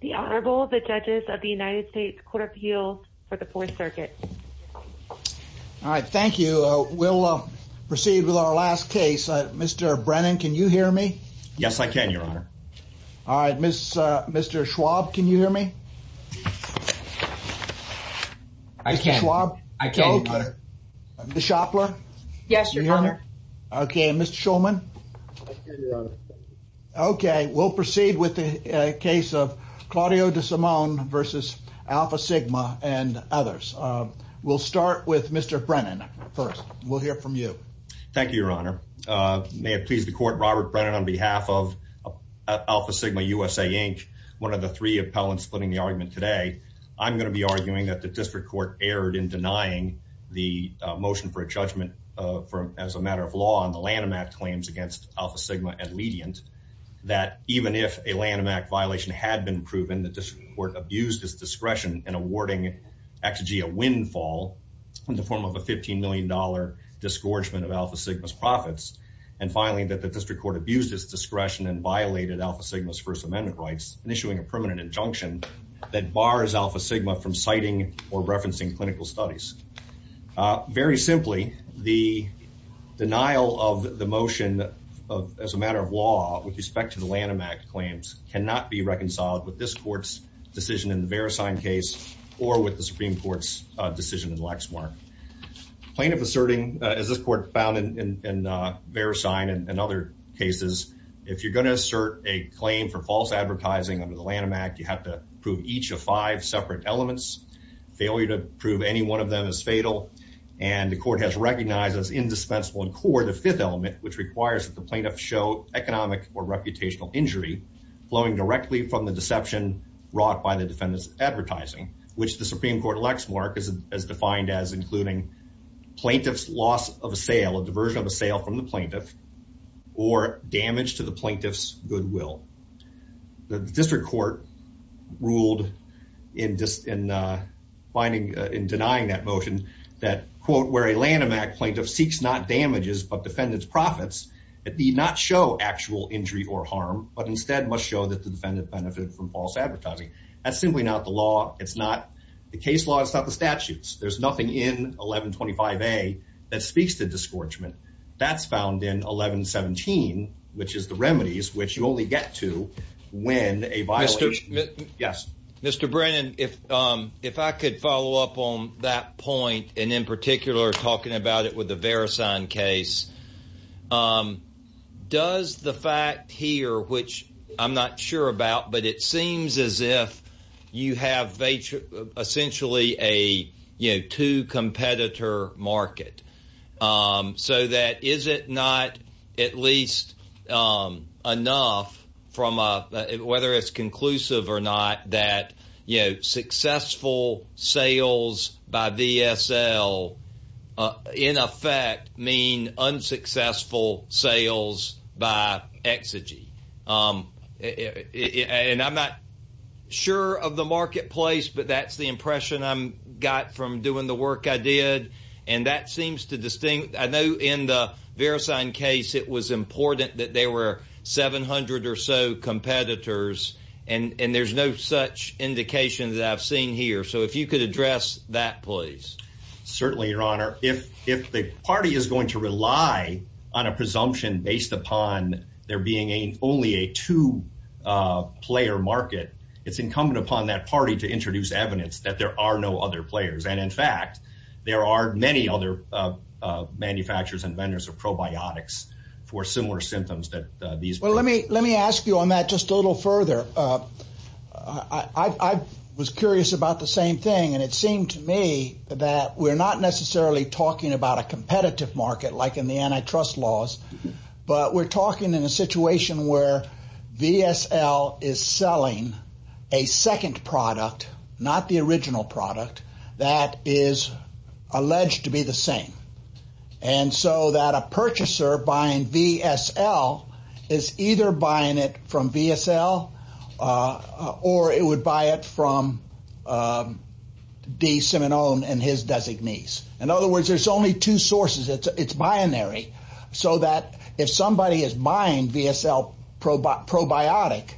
The Honorable, the Judges of the United States Court of Appeal for the 4th Circuit. All right, thank you. We'll proceed with our last case. Mr. Brennan, can you hear me? Yes, I can, Your Honor. All right, Mr. Schwab, can you hear me? I can. Mr. Schwab? I can, Your Honor. Ms. Shopler? Yes, Your Honor. Okay, Mr. Shulman? I can, Your Honor. Okay, we'll proceed with the case of Claudio De Simone v. Alfasigma and others. We'll start with Mr. Brennan first. We'll hear from you. Thank you, Your Honor. May it please the Court, Robert Brennan, on behalf of Alfasigma USA, Inc., one of the three appellants splitting the argument today, I'm going to be arguing that the District Court's claims against Alfasigma are ledient, that even if a Lanham Act violation had been proven, the District Court abused its discretion in awarding Actigea windfall in the form of a $15 million disgorgement of Alfasigma's profits, and finally, that the District Court abused its discretion and violated Alfasigma's First Amendment rights in issuing a permanent injunction that bars Alfasigma from citing or referencing clinical studies. Very simply, the denial of the motion as a matter of law with respect to the Lanham Act claims cannot be reconciled with this Court's decision in the Verisign case or with the Supreme Court's decision in Lexmark. Plaintiff asserting, as this Court found in Verisign and other cases, if you're going to assert a claim for false advertising under the Lanham Act, you have to prove each of five separate elements. Failure to prove any one of them is fatal, and the Court has recognized as indispensable and core the fifth element, which requires that the plaintiff show economic or reputational injury flowing directly from the deception wrought by the defendant's advertising, which the Supreme Court in Lexmark has defined as including plaintiff's loss of a sale, a diversion of a sale from the plaintiff, or damage to the plaintiff's goodwill. The District Court ruled in denying that motion that, quote, where a Lanham Act plaintiff seeks not damages, but defendant's profits, it need not show actual injury or harm, but instead must show that the defendant benefited from false advertising. That's simply not the law. It's not the case law. It's not the statutes. There's nothing in 1125A that speaks to disgorgement. That's found in 1117, which is the remedies, which you only get to when a violator... Mr. Brennan, if I could follow up on that point, and in particular talking about it with the Verisign case, does the fact here, which I'm not sure about, but it seems as if you have essentially a two-competitor market, so that is it not at least enough, whether it's conclusive or not, that successful sales by VSL, in effect, mean unsuccessful sales by Exigy. And I'm not sure of the marketplace, but that's the impression I got from doing the work I did. And that seems to distinguish... I know in the Verisign case, it was important that there were 700 or so competitors, and there's no such indication that I've seen here. So if you could address that, please. Certainly, Your Honor. If the party is going to rely on a presumption based upon there being only a two-player market, it's incumbent upon that party to introduce evidence that there are no other players. And in fact, there are many other manufacturers and vendors of probiotics for similar symptoms that these... Well, let me ask you on that just a little further. I was curious about the same thing, and it seemed to me that we're not necessarily talking about a competitive market like in the antitrust laws, but we're talking in a situation where VSL is selling a second product, not the original product, that is alleged to be the same. And so that a purchaser buying VSL is either buying it from VSL or it would buy it from D. Simonone and his designees. In other words, there's only two sources. It's binary. So that if somebody is buying VSL probiotic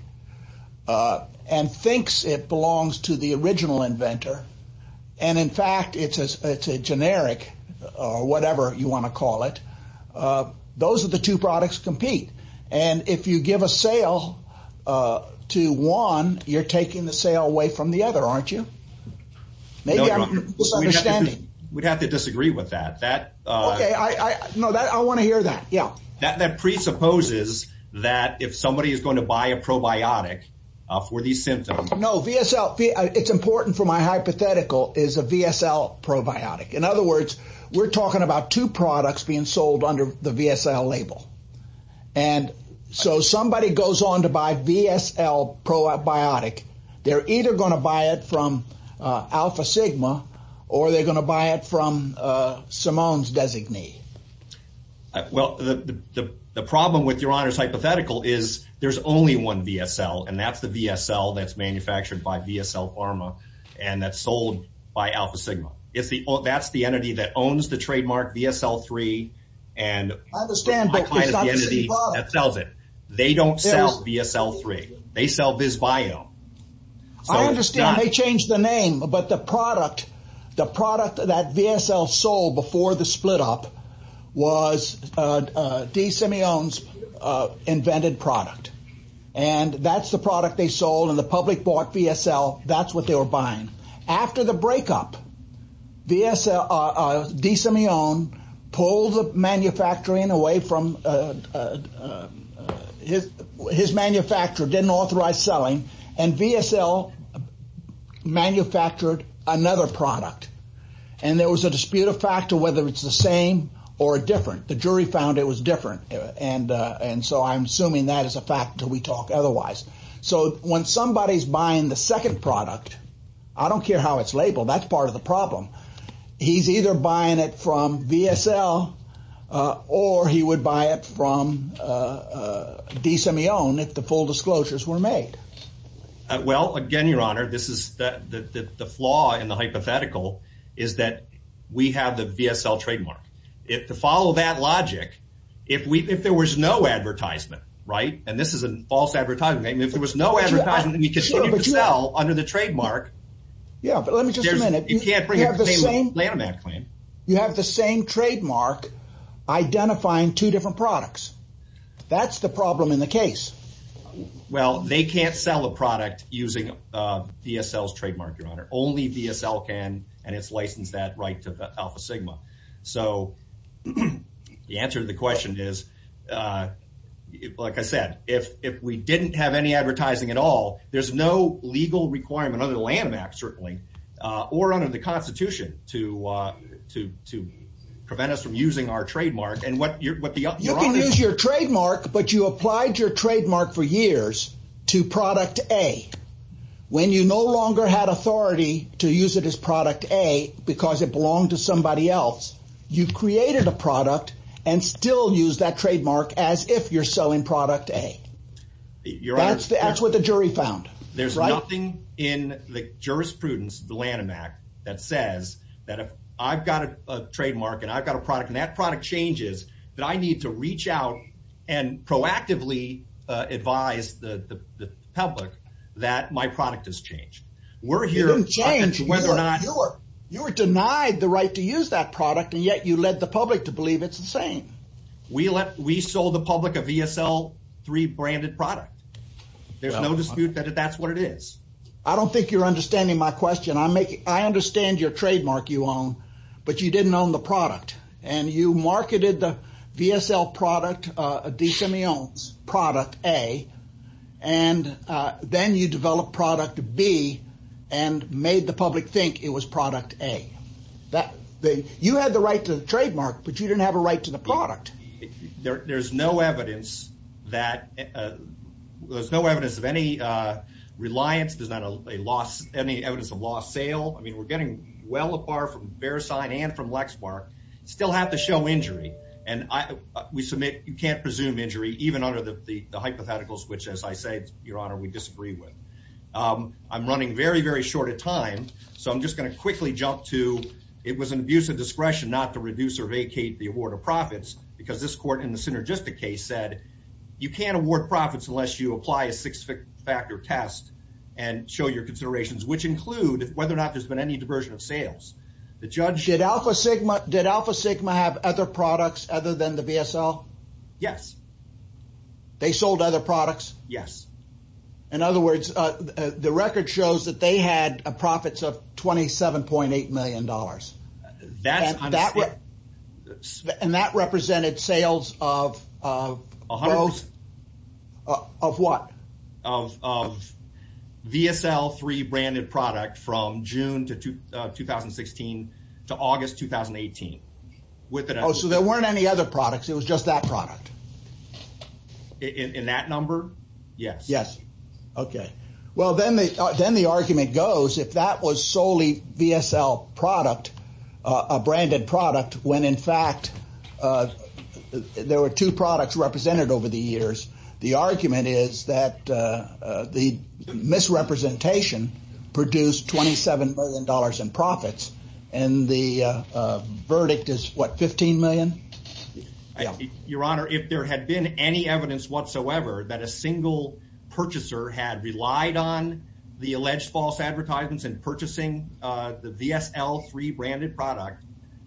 and thinks it belongs to the original inventor, and in fact, it's a generic or whatever you want to call it, those are the two products compete. And if you give a sale to one, you're taking the sale away from the other, aren't you? No, we'd have to disagree with that. Okay, I know that. I want to hear that. Yeah. That presupposes that if somebody is going to buy a probiotic for these symptoms... It's important for my hypothetical is a VSL probiotic. In other words, we're talking about two products being sold under the VSL label. And so somebody goes on to buy VSL probiotic. They're either going to buy it from Alpha Sigma or they're going to buy it from Simone's designee. Well, the problem with your honor's hypothetical is there's only one VSL and that's the VSL that's manufactured by VSL Pharma and that's sold by Alpha Sigma. That's the entity that owns the trademark VSL3 and that sells it. They don't sell VSL3. They sell VizBio. I understand they changed the name, but the product that VSL sold before the split up was Desimone's invented product. And that's the product they sold and the public bought VSL. That's what they were buying. After the breakup, Desimone pulled the manufacturing away from... His manufacturer didn't authorize selling and VSL manufactured another product. And there was a dispute of fact to whether it's the same or different. The jury found it was different. And so I'm assuming that is a fact until we talk otherwise. So when somebody's buying the second product, I don't care how it's labeled, that's part of the problem. He's either buying it from VSL or he would buy it from Desimone if the full disclosures were made. Well, again, Your Honor, the flaw in the hypothetical is that we have the VSL trademark. To follow that logic, if there was no advertisement, and this is a false advertisement, if there was no advertisement and you continue to sell under the trademark, you can't bring up the same Lanham Act claim. You have the same trademark identifying two different products. That's the problem in the case. Well, they can't sell a product using VSL's trademark, Your Honor. Only VSL can, and it's licensed that right to Alpha Sigma. So the answer to the question is, like I said, if we didn't have any advertising at all, there's no legal requirement under the Lanham Act, certainly, or under the Constitution to prevent us from using our trademark. You can use your trademark, but you applied your trademark for years to product A. When you no longer had authority to use it as product A because it belonged to somebody else, you created a product and still use that trademark as if you're selling product A. That's what the jury found. There's nothing in the jurisprudence of the Lanham Act that says that if I've got a trademark and I've got a product and that product changes, that I need to reach out and proactively advise the public that my product has changed. We're here to change whether or not... You were denied the right to use that product, and yet you led the public to believe it's the same. We sold the public a VSL 3 branded product. There's no dispute that that's what it is. I don't think you're understanding my question. I understand your trademark you own, but you didn't own the product. You marketed the VSL product, a DSME owns, product A. Then you developed product B and made the public think it was product A. You had the right to the trademark, but you didn't have a right to the product. There's no evidence of any reliance. There's not any evidence of lost sale. We're getting well apart from Verisign and from Lexmark, still have to show injury. We submit you can't presume injury, even under the hypotheticals, which as I said, Your Honor, we disagree with. I'm running very, very short of time, so I'm just going to quickly jump to... It was an abuse of discretion not to reduce or vacate the award of profits, because this court in the Synergistic case said, you can't award profits unless you apply a six-factor test and show your considerations, which include whether or not there's been any diversion of sales. The judge... Did Alpha Sigma have other products other than the VSL? Yes. They sold other products? Yes. In other words, the record shows that they had a profits of $27.8 million, and that represented sales of what? Of VSL3 branded product from June to 2016 to August 2018. Oh, so there weren't any other products, it was just that product? In that number, yes. Yes. Okay. Well, then the argument goes, if that was solely VSL product, a branded product, when in fact there were two products represented over the years, the argument is that the misrepresentation produced $27 million in profits, and the verdict is what, $15 million? Your Honor, if there had been any evidence whatsoever that a single purchaser had relied on the alleged false advertisements in purchasing the VSL3 branded product,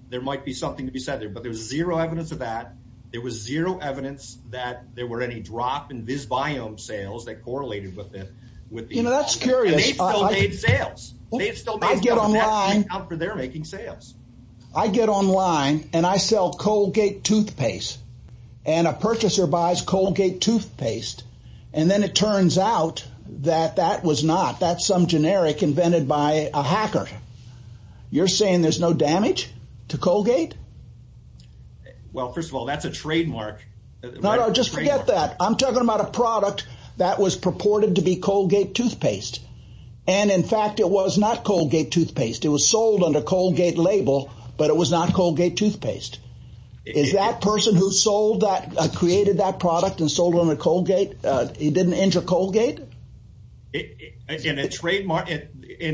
there might be some something to be said there, but there's zero evidence of that. There was zero evidence that there were any drop in VisBiome sales that correlated with it. You know, that's curious. And they've still made sales. They've still made sales, and that stands out for their making sales. I get online, and I sell Colgate toothpaste, and a purchaser buys Colgate toothpaste, and then it turns out that that was not, that's some generic invented by a hacker. You're saying there's no damage to Colgate? Well, first of all, that's a trademark. No, no, just forget that. I'm talking about a product that was purported to be Colgate toothpaste, and in fact it was not Colgate toothpaste. It was sold under Colgate label, but it was not Colgate toothpaste. Is that person who sold that, created that product and sold it under Colgate, he didn't injure Colgate? In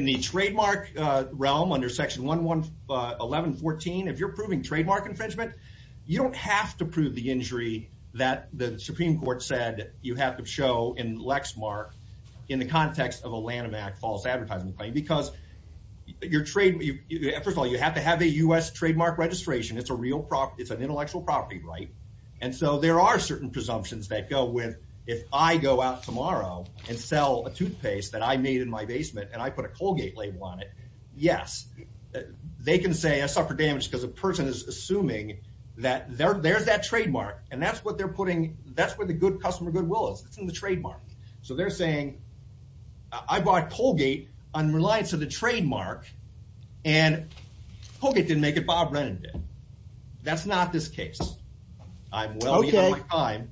the trademark realm under Section 111.14, if you're proving trademark infringement, you don't have to prove the injury that the Supreme Court said you have to show in Lexmark in the context of a Lanham Act false advertising claim, because your trade, first of all, you have to have a U.S. trademark registration. It's a real, it's an intellectual property, right? And so there are certain presumptions that go with, if I go out tomorrow and sell a toothpaste that I made in my basement and I put a Colgate label on it, yes, they can say I suffered damage because a person is assuming that there's that trademark, and that's what they're putting, that's where the good customer goodwill is, it's in the trademark. So they're saying, I bought Colgate on reliance of the trademark, and Colgate didn't make it, Bob Lennon did. That's not this case. I'm well ahead of my time,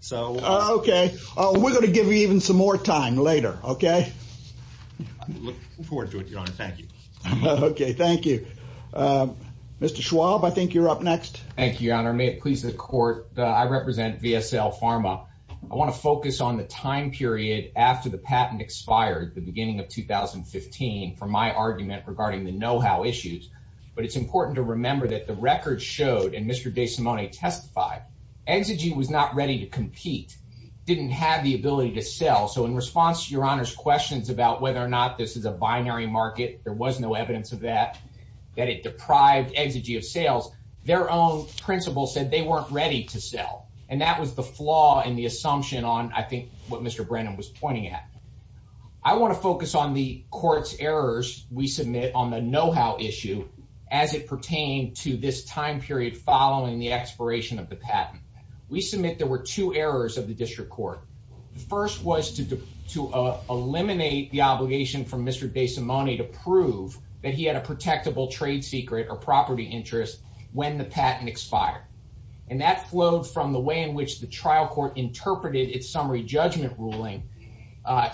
so... Okay, we're going to give you even some more time later, okay? I look forward to it, Your Honor, thank you. Okay, thank you. Mr. Schwab, I think you're up next. Thank you, Your Honor. May it please the Court, I represent VSL Pharma. I want to focus on the time period after the patent expired, the beginning of 2015, for my argument regarding the know-how issues, but it's important to remember that the record showed, and Mr. Desimone testified, Exigy was not ready to compete, didn't have the ability to sell, so in response to Your Honor's questions about whether or not this is a binary market, there was no evidence of that, that it deprived Exigy of sales, their own principle said they weren't ready to sell, and that was the flaw in the assumption on, I think, what Mr. Brennan was pointing at. I want to focus on the Court's errors we submit on the know-how issue as it pertained to this time period following the expiration of the patent. We submit there were two errors of the District Court. The first was to eliminate the obligation from Mr. Desimone to prove that he had a protectable trade secret or property interest when the patent expired, and that flowed from the way in which the trial court interpreted its summary judgment ruling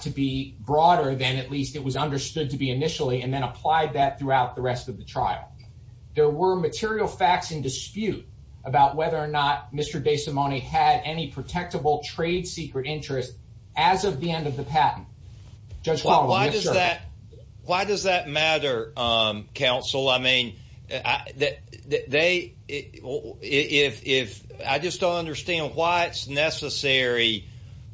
to be broader than at least it was understood to be initially, and then applied that throughout the rest of the trial. There were material facts in dispute about whether or not Mr. Desimone had any protectable trade secret interest as of the end of the patent. Judge Qualley, yes, sir. Why does that matter, counsel? I mean, I just don't understand why it's necessary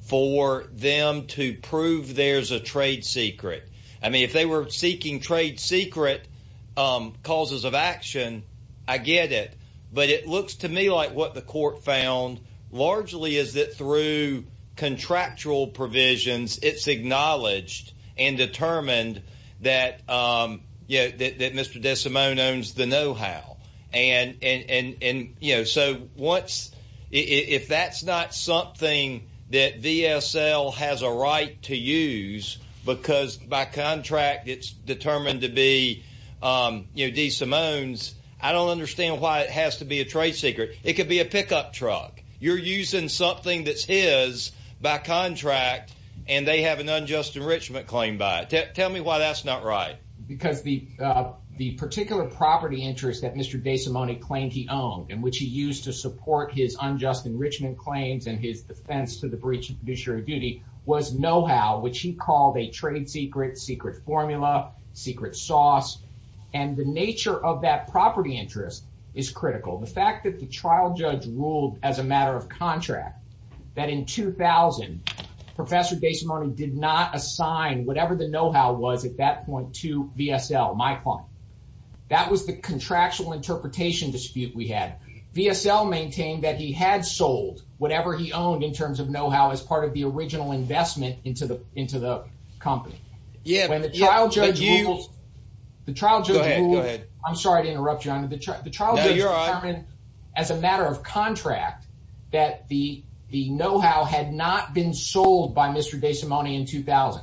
for them to prove there's a trade secret. I mean, if they were seeking trade secret causes of action, I get it, but it looks to me like what the Court found largely is that through contractual provisions, it's acknowledged and determined that, you know, that Mr. Desimone owns the know-how. And, you know, so once, if that's not something that VSL has a right to use because by contract it's determined to be, you know, Desimone's, I don't understand why it has to be a trade secret. It could be a pickup truck. You're using something that's is by contract, and they have an unjust enrichment claim by it. Tell me why that's not right. Because the particular property interest that Mr. Desimone claimed he owned and which he used to support his unjust enrichment claims and his defense to the breach of fiduciary duty was know-how, which he called a trade secret, secret formula, secret sauce. And the nature of that property interest is critical. The fact that the trial judge ruled as a matter of contract that in 2000 Professor Desimone did not assign whatever the know-how was at that point to VSL, my client. That was the contractual interpretation dispute we had. VSL maintained that he had sold whatever he owned in terms of know-how as part of the original investment into the company. When the trial judge ruled, I'm sorry to interrupt you, the trial judge determined as a matter of contract that the know-how had not been sold by Mr. Desimone in 2000.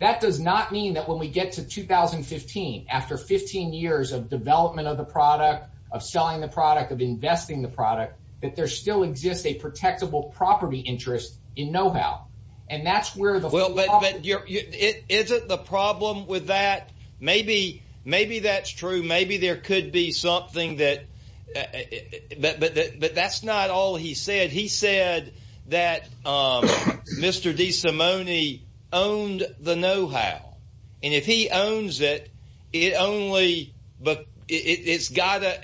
That does not mean that when we get to 2015, after 15 years of development of the product, of selling the product, of investing the product, that there still exists a protectable property interest in know-how. And that's where the Well, but isn't the problem with that? Maybe, maybe that's true. Maybe there could be something that, but that's not all he said. He said that Mr. Desimone owned the know-how. And if he owns it, it only, but it's got a,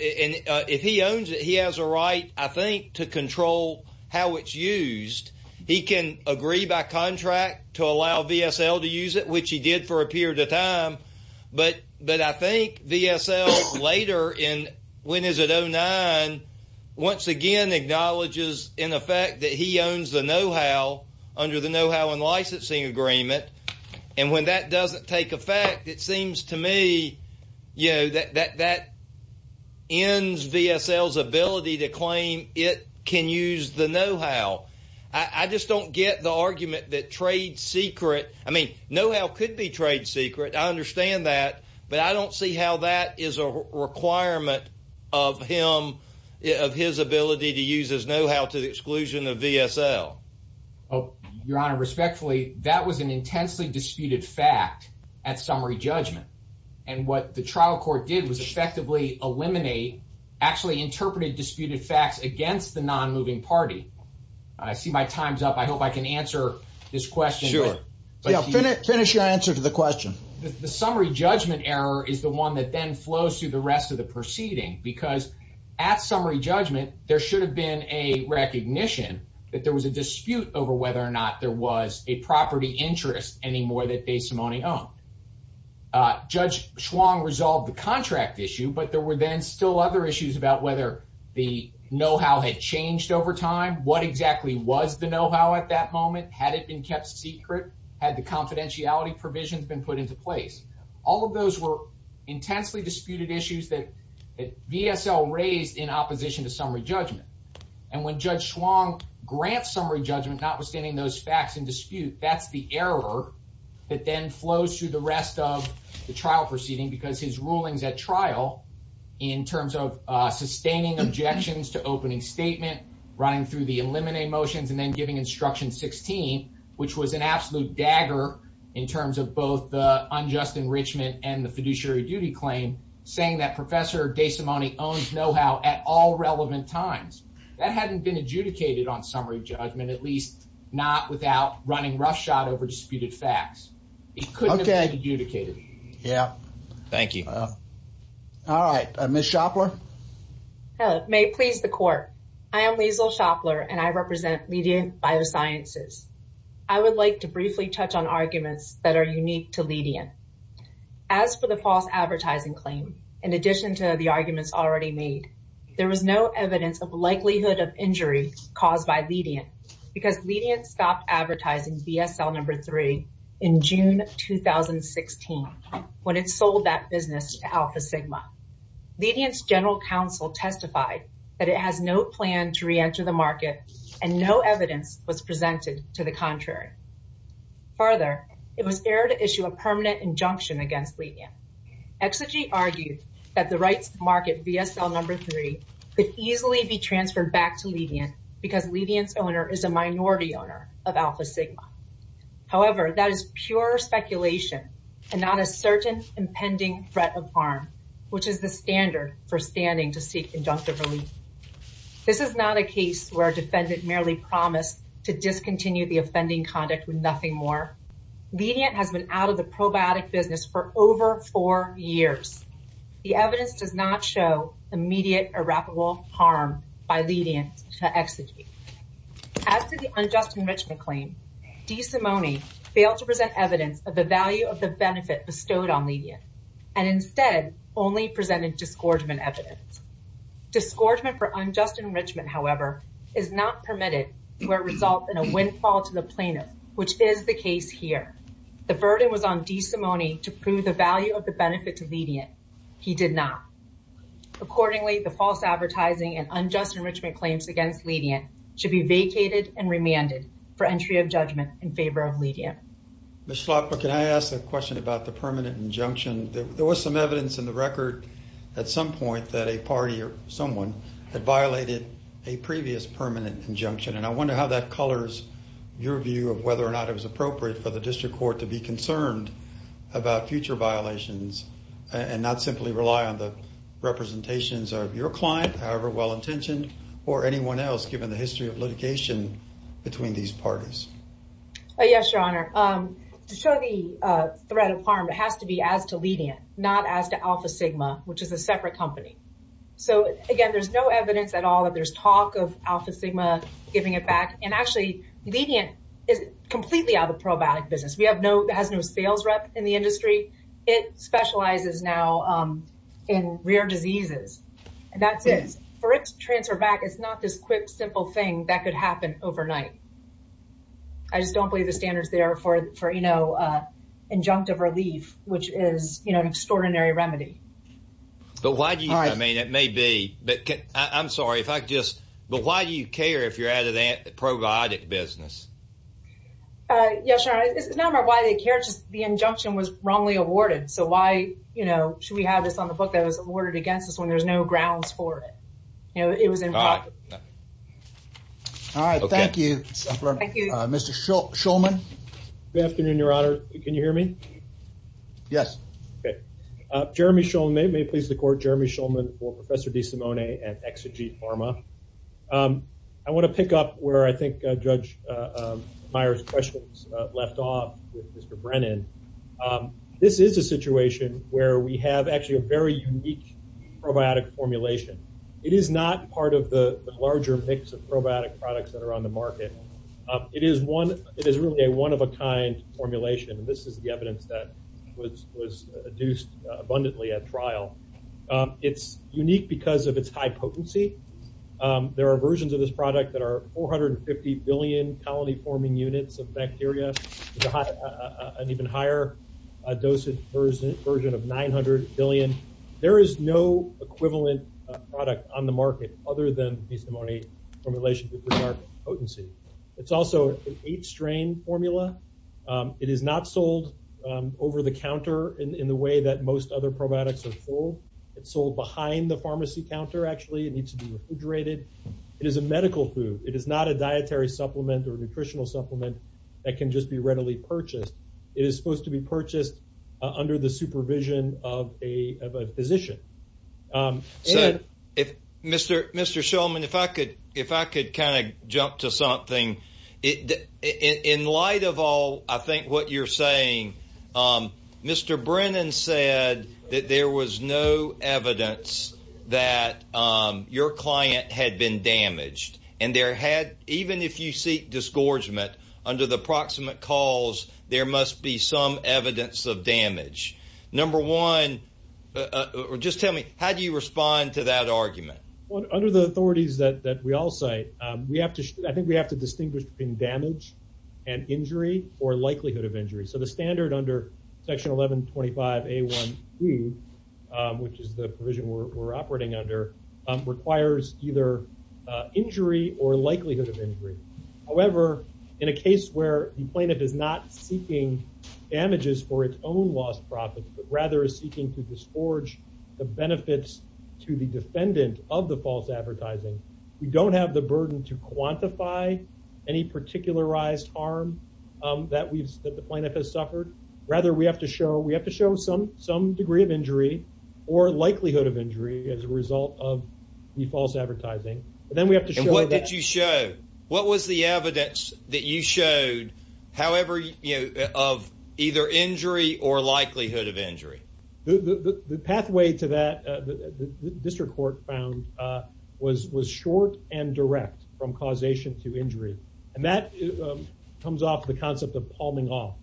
if he owns it, he has a right, I think, to control how it's used. He can agree by contract to allow VSL to use it, which he did for a period of time. But I think VSL later in, when is it, 2009, once again acknowledges in effect that he owns the know-how under the know-how and licensing agreement. And when that doesn't take effect, it seems to me, you know, that ends VSL's ability to claim it can use the know-how. I just don't get the argument that trade secret, I mean, know-how could be trade secret. I understand that. But I don't see how that is a requirement of him, of his ability to use his know-how to the exclusion of VSL. Your Honor, respectfully, that was an intensely disputed fact at summary judgment. And what the trial court did was effectively eliminate, actually interpreted disputed facts against the non-moving party. I see my time's up. I hope I can answer this question. Sure. Finish your answer to the question. The summary judgment error is the one that then flows through the rest of the proceeding. Because at summary judgment, there should have been a recognition that there was a dispute over whether or not there was a property interest anymore that Desimone owned. Judge Schwong resolved the contract issue, but there were then still other issues about whether the know-how had changed over time. What exactly was the know-how at that moment? Had it been kept secret? Had the confidentiality provisions been put into place? All of those were intensely disputed issues that VSL raised in opposition to summary judgment. And when Judge Schwong grants summary judgment, notwithstanding those facts in error, it then flows through the rest of the trial proceeding. Because his rulings at trial, in terms of sustaining objections to opening statement, running through the eliminate motions, and then giving instruction 16, which was an absolute dagger in terms of both the unjust enrichment and the fiduciary duty claim, saying that Professor Desimone owns know-how at all relevant times. That hadn't been adjudicated on summary judgment, at least not without running roughshod over disputed facts. It couldn't have been adjudicated. Yeah. Thank you. All right. Ms. Shoplar? May it please the court. I am Liesl Shoplar, and I represent Ledient Biosciences. I would like to briefly touch on arguments that are unique to Ledient. As for the false advertising claim, in addition to the arguments already made, there was no evidence of likelihood of injury caused by Ledient, because Ledient stopped advertising BSL number three in June 2016, when it sold that business to Alpha Sigma. Ledient's general counsel testified that it has no plan to reenter the market, and no evidence was presented to the contrary. Further, it was aired to issue a permanent injunction against Ledient. Exigy argued that the rights to market BSL number three could easily be transferred back to Ledient, because Ledient's owner is a minority owner of Alpha Sigma. However, that is pure speculation, and not a certain impending threat of harm, which is the standard for standing to seek inductive relief. This is not a case where a defendant merely promised to discontinue the offending conduct with nothing more. Ledient has been out of the probiotic business for over four years. The evidence does not show immediate or rapid harm by Ledient to Exigy. As to the unjust enrichment claim, DeSimone failed to present evidence of the value of the benefit bestowed on Ledient, and instead only presented disgorgement evidence. Disgorgement for unjust enrichment, however, is not permitted to result in a windfall to the plaintiff, which is the case here. The burden was on DeSimone to prove the value of the benefit to Ledient. He did not. Accordingly, the false advertising and unjust enrichment claims against Ledient should be vacated and remanded for entry of judgment in favor of Ledient. Ms. Schlapper, can I ask a question about the permanent injunction? There was some evidence in the record at some point that a party or someone had violated a previous permanent injunction, and I wonder how that colors your view of whether or not it was appropriate for the district court to be concerned about future violations and not simply rely on the representations of your client, however well-intentioned, or anyone else given the history of litigation between these parties. Yes, Your Honor. To show the threat of harm, it has to be as to Ledient, not as to Alpha Sigma, which is a separate company. So again, there's no evidence at all that there's talk of Alpha Sigma giving it back. And actually, Ledient is completely out of the probiotic business. It has no sales rep in the industry. It specializes now in rare diseases, and that's it. For it to transfer back, it's not this quick, simple thing that could happen overnight. I just don't believe the standards there for injunctive relief, which is an extraordinary remedy. But why do you, I mean, it may be, but I'm sorry, if I could just, but why do you care if you're out of that probiotic business? Yes, Your Honor, it's not about why they care, it's just the injunction was wrongly awarded. So why, you know, should we have this on the book that was awarded against us when there's no grounds for it? You know, it was improper. All right, thank you, Mr. Shulman. Good afternoon, Your Honor. Can you hear me? Yes. Okay. Jeremy Shulman, may it please the Court, Jeremy Shulman for Professor DeSimone and Exegete Pharma. I want to pick up where I think Judge Meyer's questions left off with Mr. Brennan. This is a situation where we have actually a very unique probiotic formulation. It is not part of the larger mix of probiotic products that are on the market. It is one, it is really a one-of-a-kind formulation, and this is the evidence that was adduced abundantly at trial. It's unique because of its high potency. There are versions of this product that are 450 billion colony-forming units of bacteria, an even higher dosage version of 900 billion. There is no equivalent product on the market other than DeSimone formulation with regard to potency. It's also an eight-strain formula. It is not sold over the counter in the way that most other probiotics are sold. It's sold behind the pharmacy counter, actually. It needs to be refrigerated. It is a medical food. It is not a dietary supplement or nutritional supplement that can just be readily purchased. It is supposed to be purchased under the supervision of a pharmacist. So, Mr. Shulman, if I could kind of jump to something. In light of all, I think, what you're saying, Mr. Brennan said that there was no evidence that your client had been damaged, and even if you seek disgorgement under the proximate cause, there must be some evidence of damage. Number one, just tell me, how do you respond to that argument? Well, under the authorities that we all say, I think we have to distinguish between damage and injury or likelihood of injury. So the standard under Section 1125A.1.2, which is the provision we're operating under, requires either injury or likelihood of injury. However, in a case where the plaintiff is not seeking damages for its own lost profit, but rather is seeking to disgorge the benefits to the defendant of the false advertising, we don't have the burden to quantify any particularized harm that the plaintiff has suffered. Rather, we have to show some degree of injury or likelihood of injury as a result of the false advertising. But then we have to show- that you showed, however, of either injury or likelihood of injury. The pathway to that, the district court found, was short and direct from causation to injury. And that comes off the concept of palming off.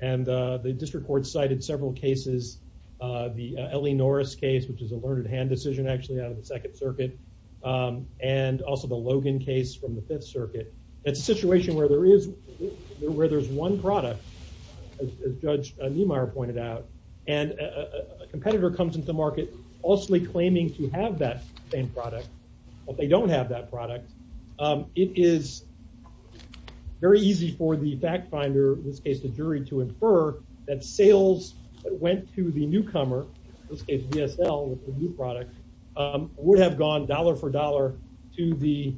And the district court cited several cases, the Ellie Norris case, which is a learned hand decision actually out of the Second Circuit, and also the Logan case from the Fifth Circuit. That's a situation where there is- where there's one product, as Judge Niemeyer pointed out, and a competitor comes into the market falsely claiming to have that same product, but they don't have that product. It is very easy for the fact finder, in this case the jury, to infer that sales that went to the dollar-for-dollar to the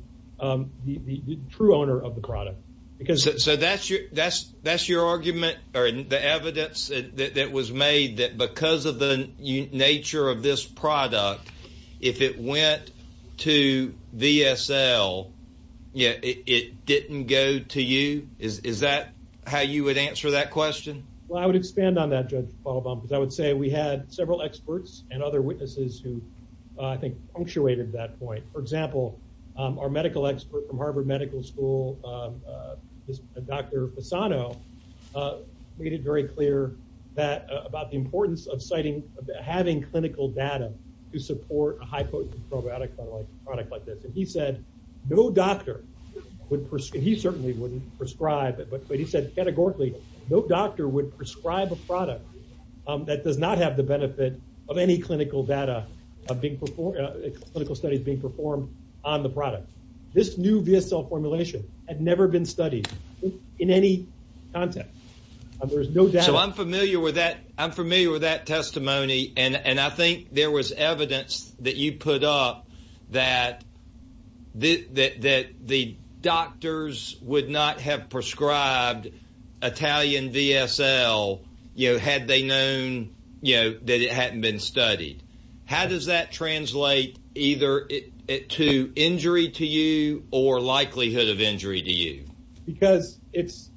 true owner of the product. Because- So that's your argument, or the evidence that was made, that because of the nature of this product, if it went to VSL, it didn't go to you? Is that how you would answer that question? Well, I would expand on that, Judge Paulbaum, because I would say we had several experts and other witnesses who, I think, punctuated that point. For example, our medical expert from Harvard Medical School, Dr. Fasano, made it very clear about the importance of citing- having clinical data to support a high-potent probiotic product like this. And he said no doctor would- he certainly wouldn't prescribe it, but he said categorically, no doctor would prescribe a product that does not have the benefit of any clinical data being performed- clinical studies being performed on the product. This new VSL formulation had never been studied in any context. There's no doubt- So I'm familiar with that- I'm familiar with that testimony, and I think there was evidence that you put up that the doctors would not have prescribed Italian VSL had they known that it hadn't been studied. How does that translate either to injury to you or likelihood of injury to you? Because it's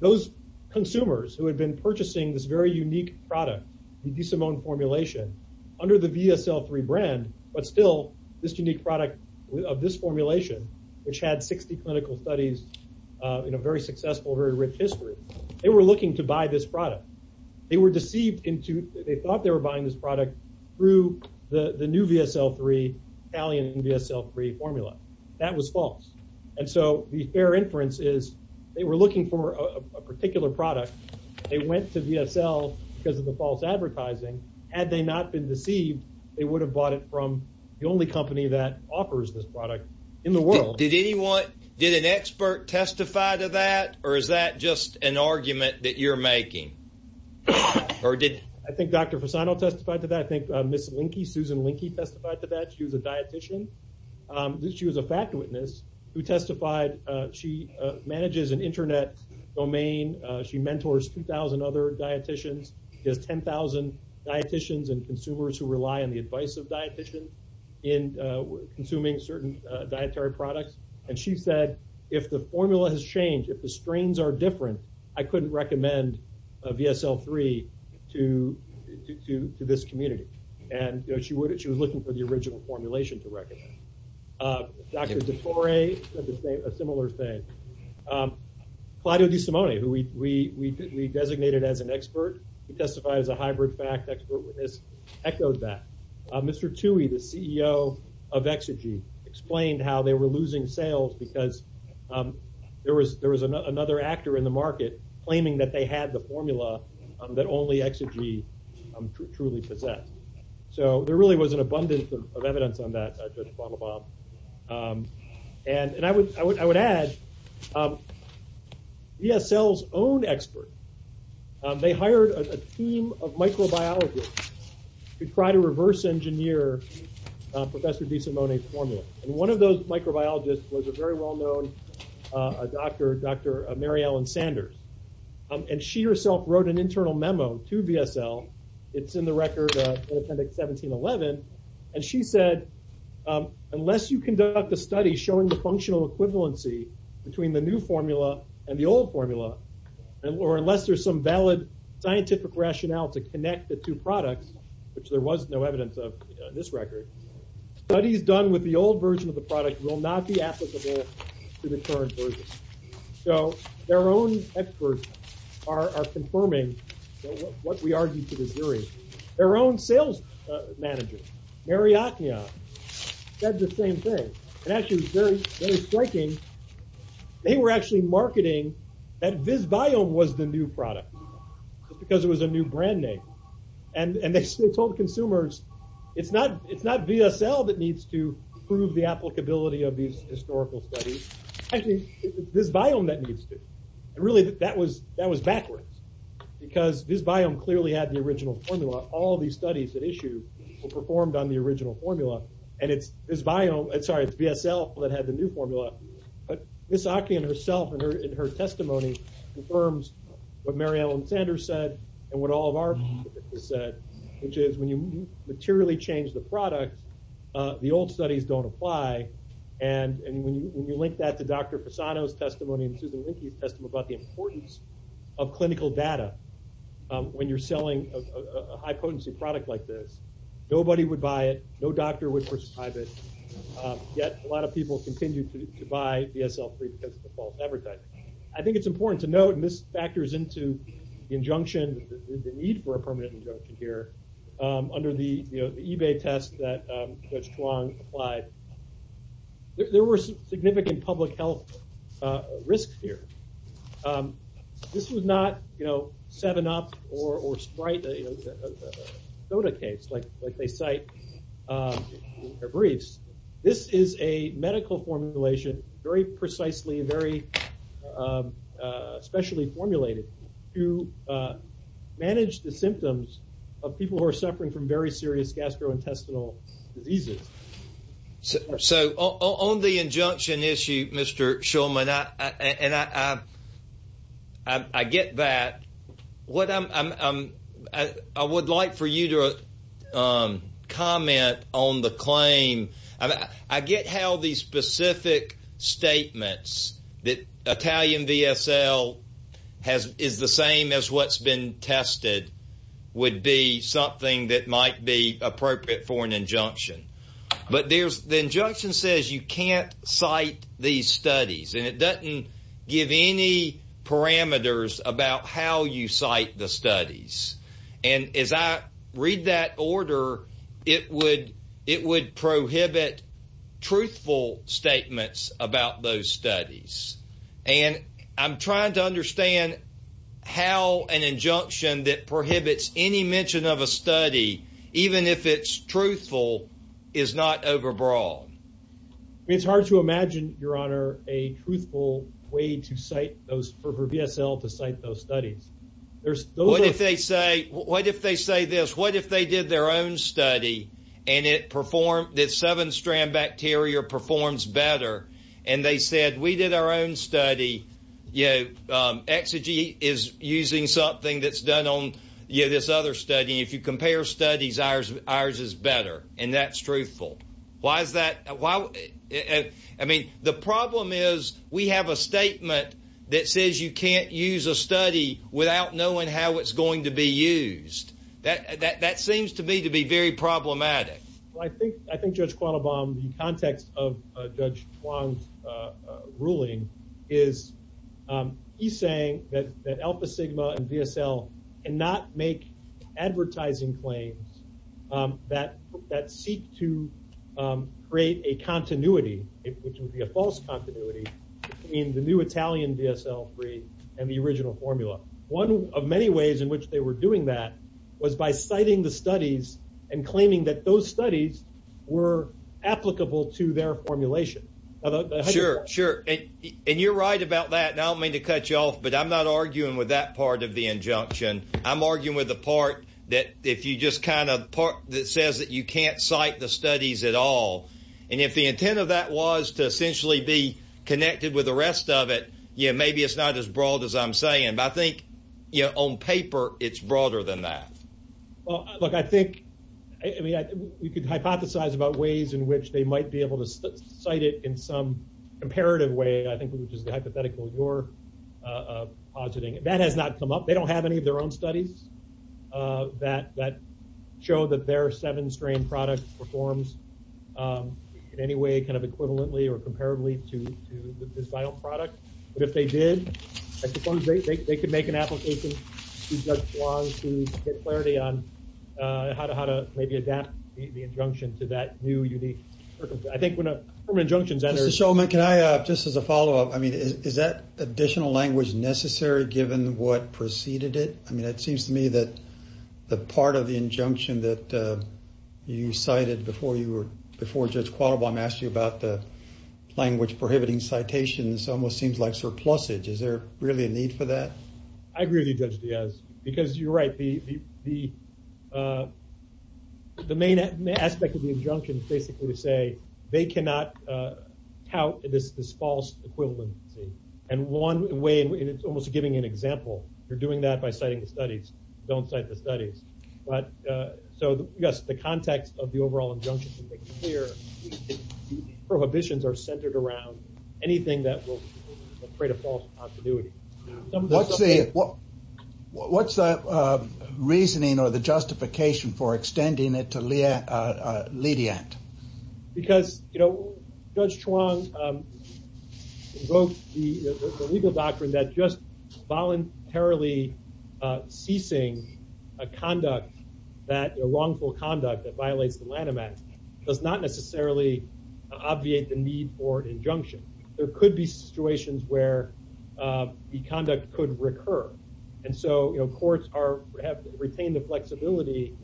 those consumers who had been purchasing this very unique product, the DeSimone formulation, under the VSL3 brand, but still this unique product of this formulation, which had 60 clinical studies in a very successful, very rich history. They were looking to buy this product. They were deceived into- they thought they were buying this product through the new VSL3, Italian VSL3 formula. That was false. And so the fair inference is they were looking for a particular product. They went to VSL because of the false advertising. Had they not been deceived, they would have bought it from the only company that offers this product in the world. Did anyone- did an expert testify to that, or is that just an argument that you're making? Or did- I think Dr. Fasano testified to that. I think Ms. Linke, Susan Linke testified to that. She was a dietitian. She was a fact witness who testified. She manages an internet domain. She mentors 2,000 other dietitians. She has 10,000 dietitians and consumers who rely on the advice of dietitians in consuming certain dietary products. And she said, if the formula has changed, if the strains are different, I couldn't recommend VSL3 to this community. And she was looking for the original formulation to recommend. Dr. DeTore said a similar thing. Claudio Di Simone, who we designated as an expert, who testified as a hybrid fact, expert witness, echoed that. Mr. Tuohy, the CEO of Exigy, explained how they were losing sales because there was another actor in the market claiming that they had the formula that only Exigy truly possessed. So there really was an abundance of evidence on that, Judge Bottlebob. And I would add, VSL's own expert, they hired a team of microbiologists to try to reverse engineer Professor Di Simone's formula. And one of those microbiologists was a very well-known doctor, Dr. Mary Ellen Sanders. And she herself wrote an internal memo to VSL. It's in the record in Appendix 1711. And she said, unless you conduct a study showing the functional equivalency between the new formula and the old formula, or unless there's some valid scientific rationale to connect the two products, which there was no evidence of in this record, studies done with the old version of the product will not be applicable to the current version. So their own experts are confirming what we argued to be serious. Their own sales manager, Mary Ocneon, said the same thing. And actually, it was very striking. They were actually marketing that VisVolume was the new product, just because it was a new brand name. And they told consumers, it's not VSL that needs to prove the applicability of these historical studies. I think it's VisVolume that needs to. And really, that was backwards. Because VisVolume clearly had the original formula. All these studies that issue were performed on the original formula. And it's VSL that had the new formula. But Ms. Ocneon herself, in her testimony, confirms what Mary Ellen Sanders said, and what all of our participants said, which is when you materially change the product, the old studies don't apply. And when you link that to Dr. Fasano's testimony and Susan Linke's testimony about the importance of clinical data when you're selling a high-potency product like this, nobody would buy it. No doctor would prescribe it. Yet a lot of people continue to buy VSL-free because of the false advertising. I think it's important to note, and this factors into the injunction, the need for permanent injunction here, under the eBay test that Judge Chuang applied. There were significant public health risks here. This was not 7-Up or Sprite, a soda case like they cite in their briefs. This is a medical formulation, very precisely and very specially formulated to manage the symptoms of people who are suffering from very serious gastrointestinal diseases. So on the injunction issue, Mr. Schulman, and I get that. I would like for you to comment on the claim. I get how these specific statements that Italian VSL is the same as what's been tested would be something that might be appropriate for an injunction. But the injunction says you can't cite these studies, and it doesn't give any parameters about how you cite the studies. And as I read that order, it would prohibit truthful statements about those studies. And I'm trying to understand how an injunction that prohibits any mention of a study, even if it's truthful, is not overbroad. It's hard to imagine, Your Honor, a truthful way for VSL to cite those studies. What if they say this? What if they did their own study, and the seven-strand bacteria performs better, and they said we did our own study. Exigy is using something that's done on this other study. If you compare studies, ours is better, and that's truthful. The problem is we have a statement that says you can't use a study without knowing how it's going to be used. That seems to me to be very problematic. I think, Judge Quattlebaum, the context of Judge Huang's ruling is he's saying that Alpha Sigma and VSL cannot make advertising claims that seek to create a continuity, which would be a false continuity, between the new Italian VSL and the original formula. One of many ways in which they were doing that was by citing the studies and claiming that those studies were applicable to their formulation. Sure. And you're right about that, and I don't mean to cut you off, but I'm not arguing with that part of the injunction. I'm arguing with the part that says that you can't cite the studies at all. And if the intent of that was to essentially be connected with the rest of it, maybe it's not as broad as I'm saying. But I think on paper, it's broader than that. Well, look, I think we could hypothesize about ways in which they might be able to cite it in some comparative way, I think, which is the hypothetical you're positing. That has not come up. They don't have any of their own studies that show that their seven-strain product performs in any way kind of equivalently or equivalently. I suppose they could make an application to Judge Wong to get clarity on how to maybe adapt the injunction to that new, unique circumstance. I think when a permanent injunction is entered... Mr. Shulman, can I, just as a follow-up, I mean, is that additional language necessary given what preceded it? I mean, it seems to me that the part of the injunction that you cited before Judge Qualibong asked you about the prohibiting citations almost seems like surplusage. Is there really a need for that? I agree with you, Judge Diaz, because you're right. The main aspect of the injunction is basically to say they cannot tout this false equivalency. And one way, and it's almost giving an example, you're doing that by citing the studies, don't cite the studies. So, yes, the context of the overall injunction can make it clear that prohibitions are centered around anything that will create a false continuity. What's the reasoning or the justification for extending it to leadiant? Because Judge Chuang invoked the legal doctrine that just voluntarily ceasing a conduct, a wrongful conduct that violates the Lanham Act does not necessarily obviate the need for an injunction. There could be situations where the conduct could recur. And so courts have retained the flexibility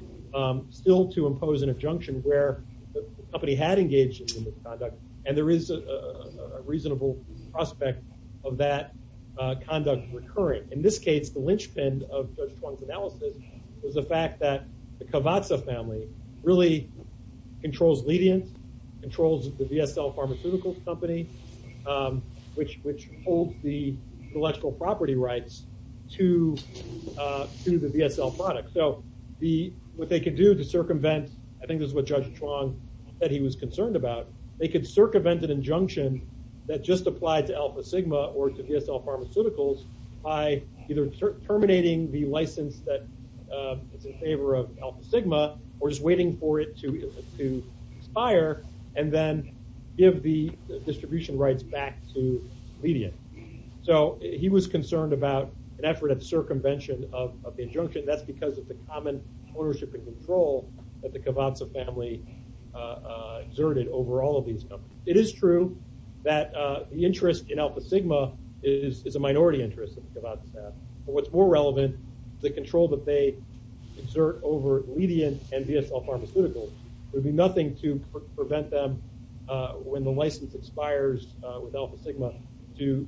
still to impose an injunction where the company had engaged in this conduct. And there is a reasonable prospect of that conduct recurring. In this case, the linchpin of Judge Chuang's analysis was the fact that the Cavazza family really controls leadiant, controls the VSL Pharmaceuticals Company, which holds the intellectual property rights to the VSL product. So what they could do to circumvent, I think this is what Judge Chuang said he was concerned about, they could circumvent an injunction that just applied to Alpha Sigma or to VSL Pharmaceuticals by either terminating the license that is in favor of Alpha Sigma or just waiting for it to expire and then give the distribution rights back to leadiant. So he was concerned about an effort of circumvention of the injunction. That's because of the common ownership and control that the Cavazza family exerted over these companies. It is true that the interest in Alpha Sigma is a minority interest of the Cavazza family. But what's more relevant is the control that they exert over leadiant and VSL Pharmaceuticals. There'd be nothing to prevent them when the license expires with Alpha Sigma to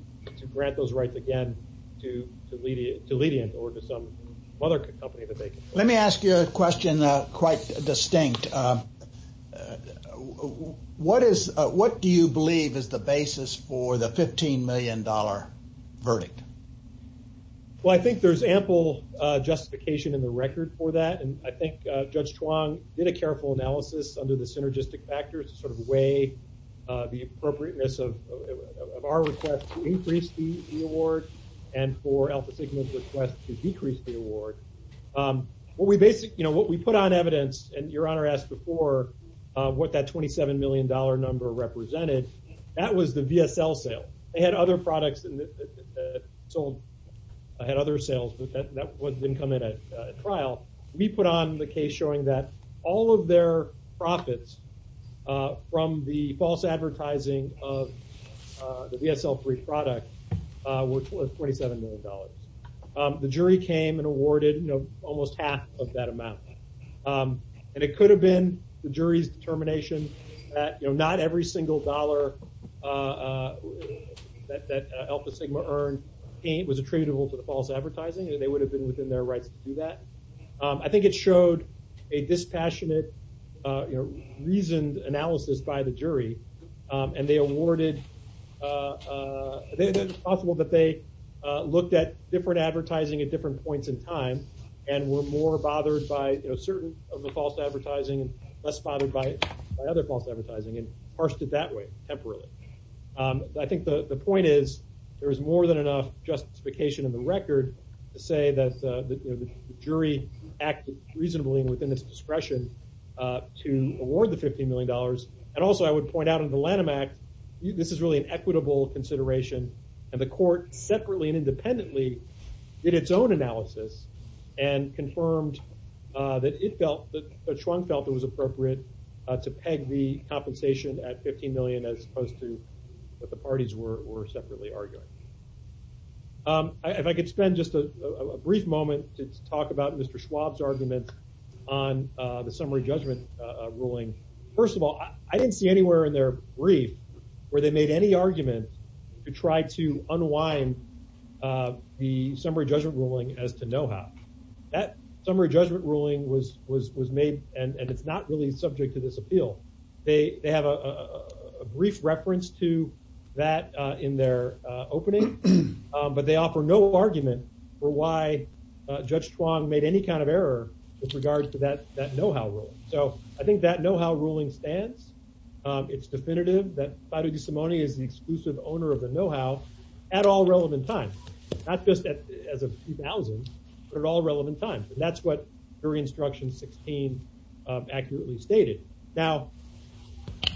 grant those rights again to leadiant or to some other company that they control. Let me ask you a question quite distinct. What do you believe is the basis for the $15 million verdict? Well, I think there's ample justification in the record for that. And I think Judge Chuang did a careful analysis under the synergistic factors to sort of weigh the appropriateness of our request to increase the award and for Alpha Sigma's request to decrease the award. What we basically, you know, what we put on evidence, and Your Honor asked before what that $27 million number represented, that was the VSL sale. They had other products sold, had other sales, but that didn't come in at trial. We put on the case showing that all of their profits from the false advertising of the VSL-free product were $27 million. The jury came and awarded, you know, almost half of that amount. And it could have been the jury's determination that, you know, not every single dollar that Alpha Sigma earned was attributable to the false advertising, and they would have been within their rights to do that. I think it showed a dispassionate, you know, reasoned analysis by the jury, and they awarded, it's possible that they looked at different advertising at different points in time and were more bothered by, you know, certain of the false advertising and less bothered by other false advertising and parsed it that way, temporarily. I think the point is, there is more than enough justification in the record to say that, you know, the jury acted reasonably within its discretion to award the $15 million. And also, I would point out in the Lanham Act, this is really an equitable consideration, and the court separately and independently did its own analysis and confirmed that it felt, that Schwung felt it was appropriate to peg the compensation at $15 million as opposed to what the parties were separately arguing. If I could spend just a brief moment to talk about Mr. Schwab's argument on the summary judgment ruling. First of all, I didn't see anywhere in their brief where they made any argument to try to unwind the summary judgment ruling as to know-how. That summary judgment ruling was made, and it's really not subject to this appeal. They have a brief reference to that in their opening, but they offer no argument for why Judge Schwab made any kind of error with regard to that know-how ruling. So, I think that know-how ruling stands. It's definitive that Fido DiSimone is the exclusive owner of the know-how at all relevant times, not just as of 2000, but at all relevant times. That's what jury instruction 16 accurately stated. Now,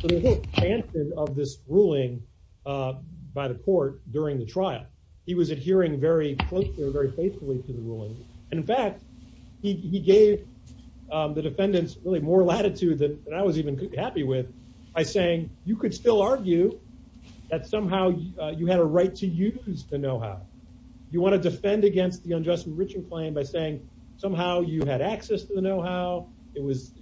the whole stance of this ruling by the court during the trial, he was adhering very closely or very faithfully to the ruling, and in fact, he gave the defendants really more latitude than I was even happy with by saying, you could still argue that somehow you had a right to use the know-how. You want to defend against the unjust enrichment claim by saying somehow you had access to the know-how. It was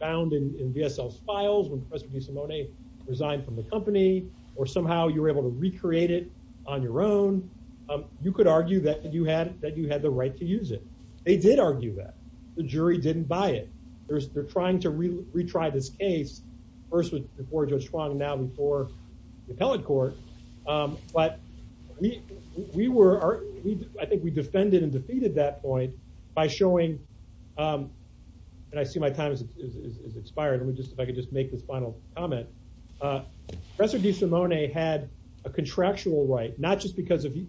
found in VSL's files when Professor DiSimone resigned from the company, or somehow you were able to recreate it on your own. You could argue that you had the right to use it. They did argue that. The jury didn't buy it. They're trying to retry this case, first before Judge Schwab, now before the appellate court, but I think we defended and defeated that point by showing, and I see my time has expired. Let me just, if I could just make this final comment. Professor DiSimone had a contractual right, not just because he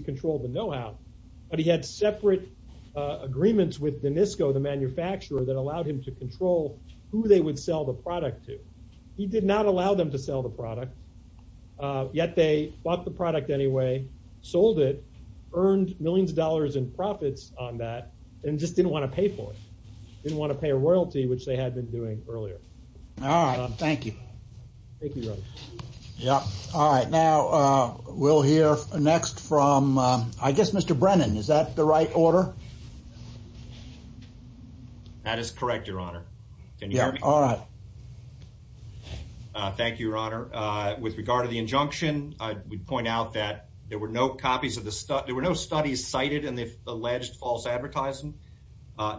controlled the know-how, but he had separate agreements with Danisco, the manufacturer, that allowed him to control who they would sell the product to. He did not allow them to sell the product, yet they bought the product anyway, sold it, earned millions of dollars in profits on that, and just didn't want to pay for it. They didn't want to pay a royalty, which they had been doing earlier. All right. Thank you. Thank you. Yeah. All right. Now we'll hear next from, I guess, Mr. Brennan. Is that the right order? That is correct, Your Honor. Can you hear me? Yeah. All right. Thank you, Your Honor. With regard to the injunction, I would point out that there were no copies of the, there were no studies cited in the alleged false advertising.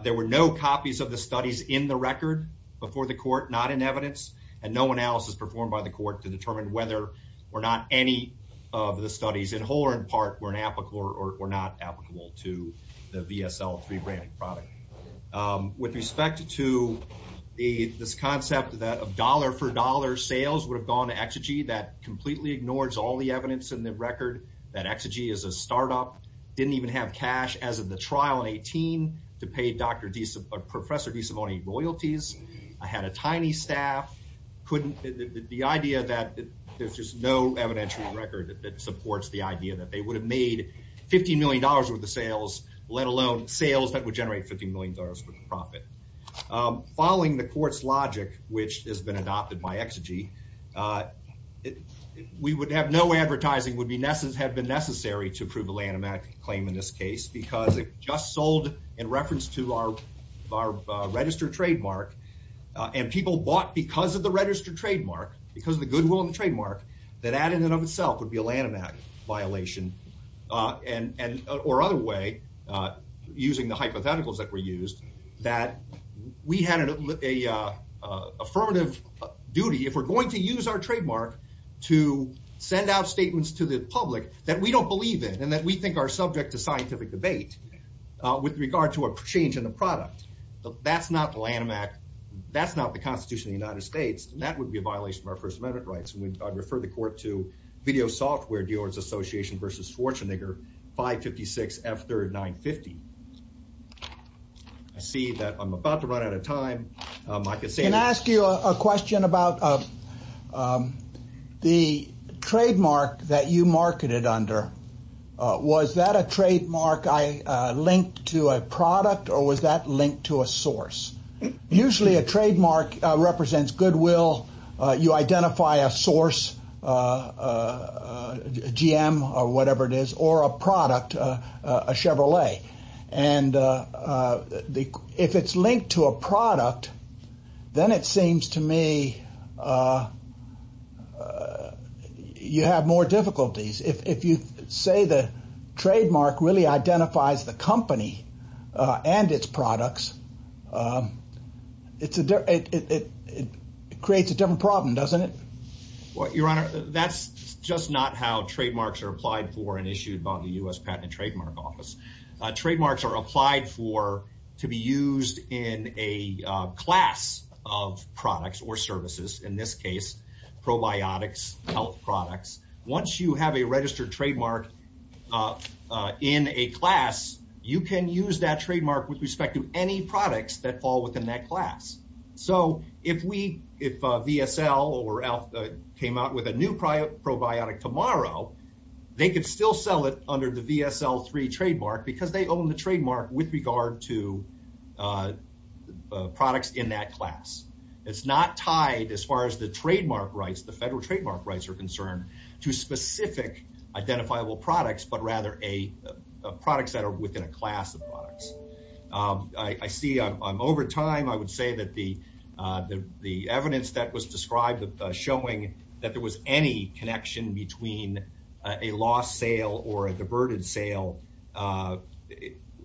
There were no copies of the studies in the record before the court, not in evidence, and no analysis performed by the court to determine whether or not any of the studies, in whole or in part, were an applicable, or not applicable, to the VSL3 branding product. With respect to this concept that, of dollar-for-dollar sales, would have gone to Exigy, that completely ignores all the evidence in the record that Exigy is a startup, didn't even have cash as of the trial in 18 to pay Professor DeSimone royalties, had a tiny staff, couldn't, the idea that there's just no evidential record that supports the idea that they would have made $50 million worth of sales, let alone sales that would generate $50 million worth of profit. Following the court's logic, which has been adopted by Exigy, we would have, no advertising would have been necessary to prove a landmark claim in this case, because it just sold in reference to our registered trademark, and people bought because of the registered trademark, because of the goodwill of the landmark violation, or other way, using the hypotheticals that were used, that we had an affirmative duty, if we're going to use our trademark to send out statements to the public that we don't believe in, and that we think are subject to scientific debate, with regard to a change in the product, that's not the landmark, that's not the Constitution of the United States, and that would be a violation of our First Amendment rights, and I'd refer the court to Video Software Dealers Association v. Schwarzenegger, 556 F3rd 950. I see that I'm about to run out of time, I could say- Can I ask you a question about the trademark that you marketed under, was that a trademark I linked to a product, or was that linked to a source? Usually a trademark represents goodwill, you identify a source, a GM, or whatever it is, or a product, a Chevrolet, and if it's linked to a product, then it seems to me you have more difficulties. If you say the trademark really identifies the company and its products, it creates a different problem, doesn't it? Your Honor, that's just not how trademarks are applied for and issued by the U.S. Patent and Trademark Office. Trademarks are applied for to be used in a class of products or services, in this case, probiotics, health products. Once you have a registered trademark in a class, you can use that trademark with respect to any products that fall within that class. If VSL or ALF came out with a new probiotic tomorrow, they could still sell it under the VSL3 trademark because they own the trademark with regard to products in that class. It's not tied, as far as the trademark rights, the federal trademark rights are concerned, to specific identifiable products, but rather products that are within a class of products. I see I'm over time. I would say that the evidence that was described showing that there was any connection between a lost sale or a diverted sale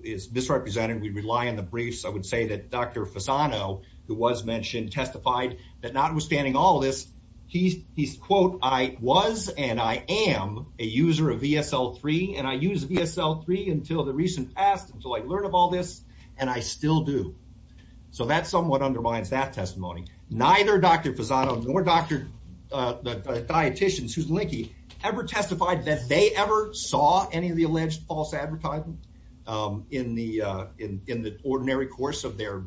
is misrepresented. We rely on the briefs. I would say that Dr. Fasano, who was mentioned, testified that notwithstanding all this, he's, quote, I was and I am a user of VSL3, and I used VSL3 until the recent past, until I learned of all this, and I still do. That somewhat undermines that testimony. Neither Dr. Fasano nor the dieticians, ever testified that they ever saw any of the alleged false advertising in the ordinary course of their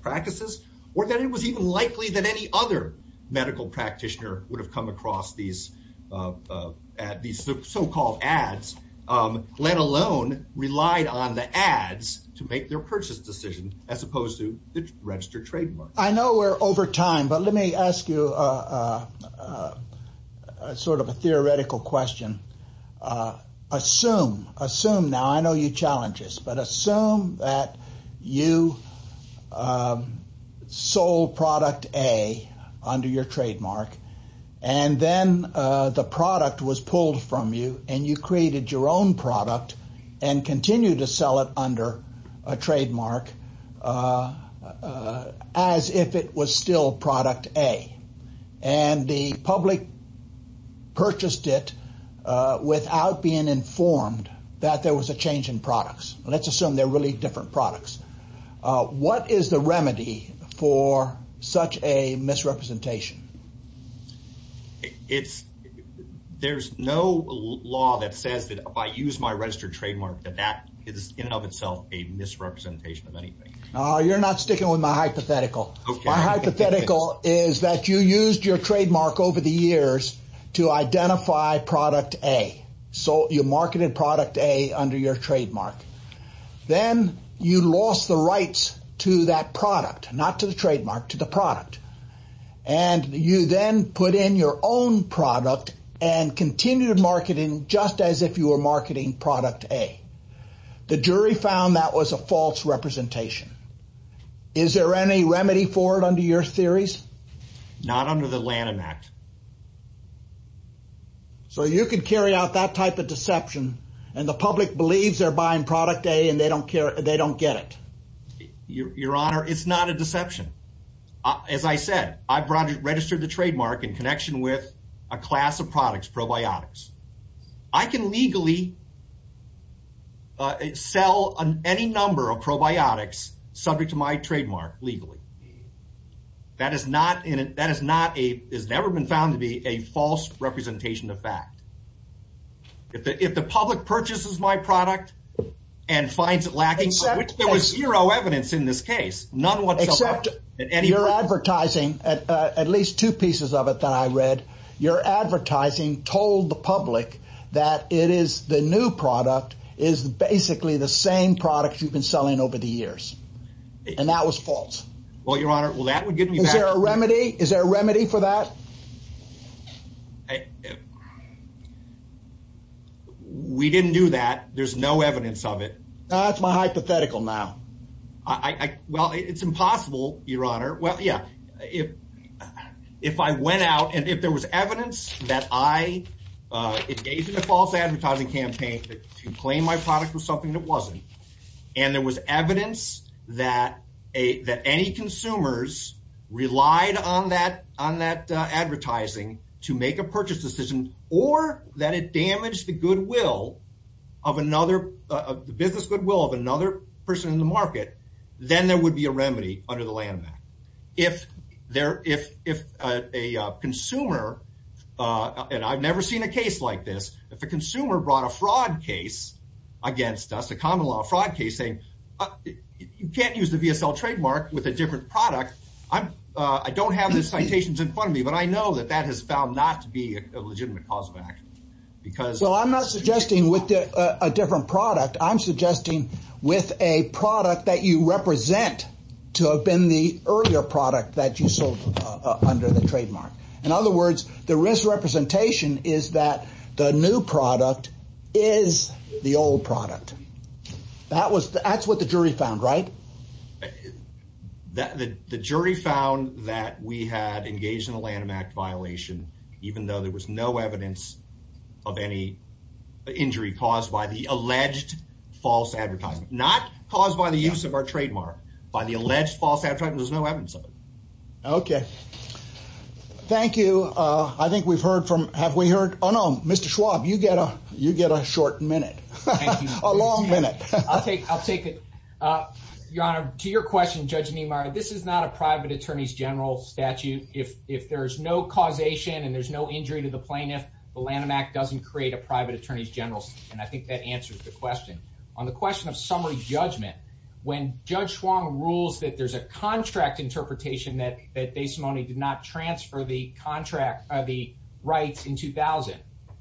practices, or that it was even likely that any other medical practitioner would have come across these so-called ads, let alone relied on the ads to make their purchase decision, as opposed to the registered trademark. I know we're over time, but let me ask you a sort of a theoretical question. Assume, assume now, I know you're challenged, but assume that you sold product A under your trademark, and then the product was pulled from you, and you created your own product and continue to sell it under a trademark as if it was still product A, and the public purchased it without being informed that there was a change in products. Let's assume they're really different products. What is the remedy for such a misrepresentation? It's, there's no law that says that if I use my registered trademark that that is in and of itself a misrepresentation of anything. Oh, you're not sticking with my hypothetical. My hypothetical is that you used your trademark over the years to identify product A. So you marketed product A under your trademark. Then you lost the rights to that product, not to the trademark, to the product. And you then put in your own product and continued marketing, just as if you were marketing product A. The jury found that was a false representation. Is there any remedy for it under your theories? Not under the Lanham Act. So you could carry out that type of deception, and the public believes they're buying product A, and they don't care, they don't get it. Your Honor, it's not a deception. As I said, I registered the trademark in connection with a class of products, probiotics. I can legally sell any number of probiotics subject to my trademark legally. That has never been found to be a false representation of fact. If the public purchases my product and finds it lacking, there was zero evidence in this case. None whatsoever. Your advertising, at least two pieces of it that I read, your advertising told the public that it is the new product, is basically the same product you've been selling over the years. And that was false. Well, Your Honor, well, that would give me... Is there a remedy? Is there a remedy for that? I... We didn't do that. There's no evidence of it. That's my hypothetical now. Well, it's impossible, Your Honor. Well, yeah. If I went out and if there was evidence that I engaged in a false advertising campaign to claim my product was something that wasn't, and there was evidence that any consumers relied on that advertising to make a purchase decision, or that it damaged the business goodwill of another person in the market, then there would be a remedy under the landmark. If a consumer, and I've never seen a case like this, if a consumer brought a fraud case against us, a common law fraud case saying, you can't use the VSL trademark with a different product. I don't have the citations in front of me, but I know that that has found not to be a legitimate cause of action because... Well, I'm not suggesting with a different product. I'm suggesting with a product that you represent to have been the earlier product that you sold under the trademark. In other words, the risk representation is that the new product is the old product. That's what the jury found, right? The jury found that we had engaged in a Lanham Act violation, even though there was no evidence of any injury caused by the alleged false advertising. Not caused by the use of our trademark. By the alleged false advertising, there's no evidence of it. Okay. Thank you. I think we've heard from... Have we heard... Oh no, Mr. Schwab, you get a short minute. A long minute. I'll take it. Your Honor, to your question, Judge Niemeyer, this is not a private attorney's general statute. If there's no causation and there's no injury to the plaintiff, the Lanham Act doesn't create a private attorney's general. And I think that answers the question. On the question of contract interpretation that Desimone did not transfer the rights in 2000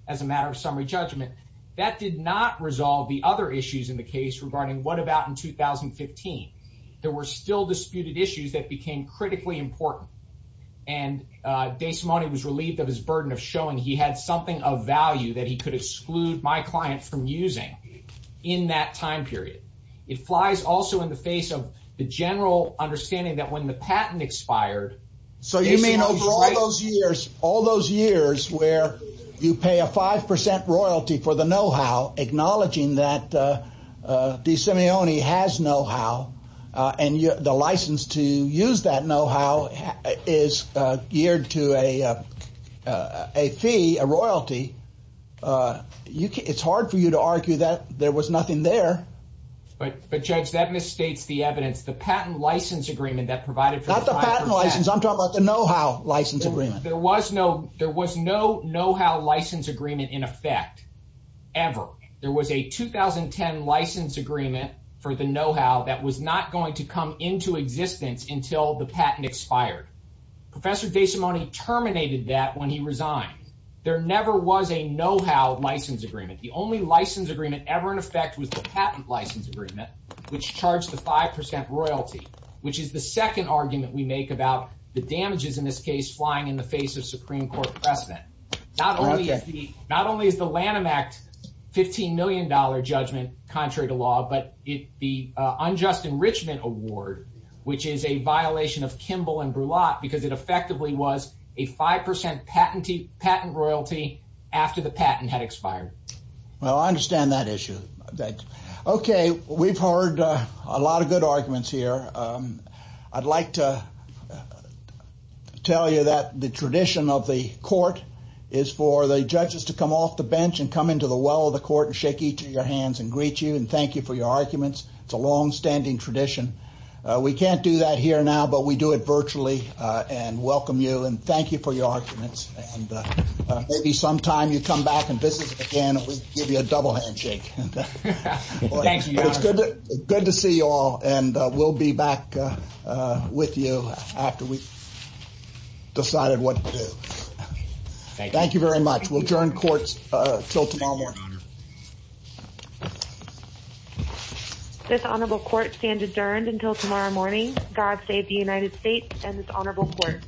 as a matter of summary judgment, that did not resolve the other issues in the case regarding what about in 2015. There were still disputed issues that became critically important. And Desimone was relieved of his burden of showing he had something of value that he could exclude my client from using in that time period. It flies also in the face of the general understanding that when the patent expired... So you mean over all those years where you pay a 5% royalty for the know-how, acknowledging that Desimone has know-how and the license to use that know-how is geared to a fee, a royalty, it's hard for you to argue that there was nothing there. But Judge, that misstates the evidence. The patent license agreement that provided... Not the patent license. I'm talking about the know-how license agreement. There was no know-how license agreement in effect, ever. There was a 2010 license agreement for the know-how that was not going to come into existence until the patent expired. Professor Desimone terminated that when he resigned. There never was a know-how license agreement. The only license agreement ever in effect was the patent license agreement, which charged the 5% royalty, which is the second argument we make about the damages in this case flying in the face of Supreme Court precedent. Not only is the Lanham Act $15 million judgment contrary to law, but the unjust enrichment award, which is a violation of Kimball and Brulat, because it effectively was a 5% patent royalty after the patent had expired. Well, I understand that issue. Okay, we've heard a lot of good arguments here. I'd like to tell you that the tradition of the court is for the judges to come off the bench and come to the well of the court and shake each of your hands and greet you and thank you for your arguments. It's a longstanding tradition. We can't do that here now, but we do it virtually and welcome you and thank you for your arguments. Maybe sometime you come back and visit us again, and we'll give you a double handshake. Thank you, Your Honor. It's good to see you all, and we'll be back with you after we've decided what to do. Thank you very much. We'll adjourn court until tomorrow morning. This honorable court stands adjourned until tomorrow morning. God save the United States and this honorable court.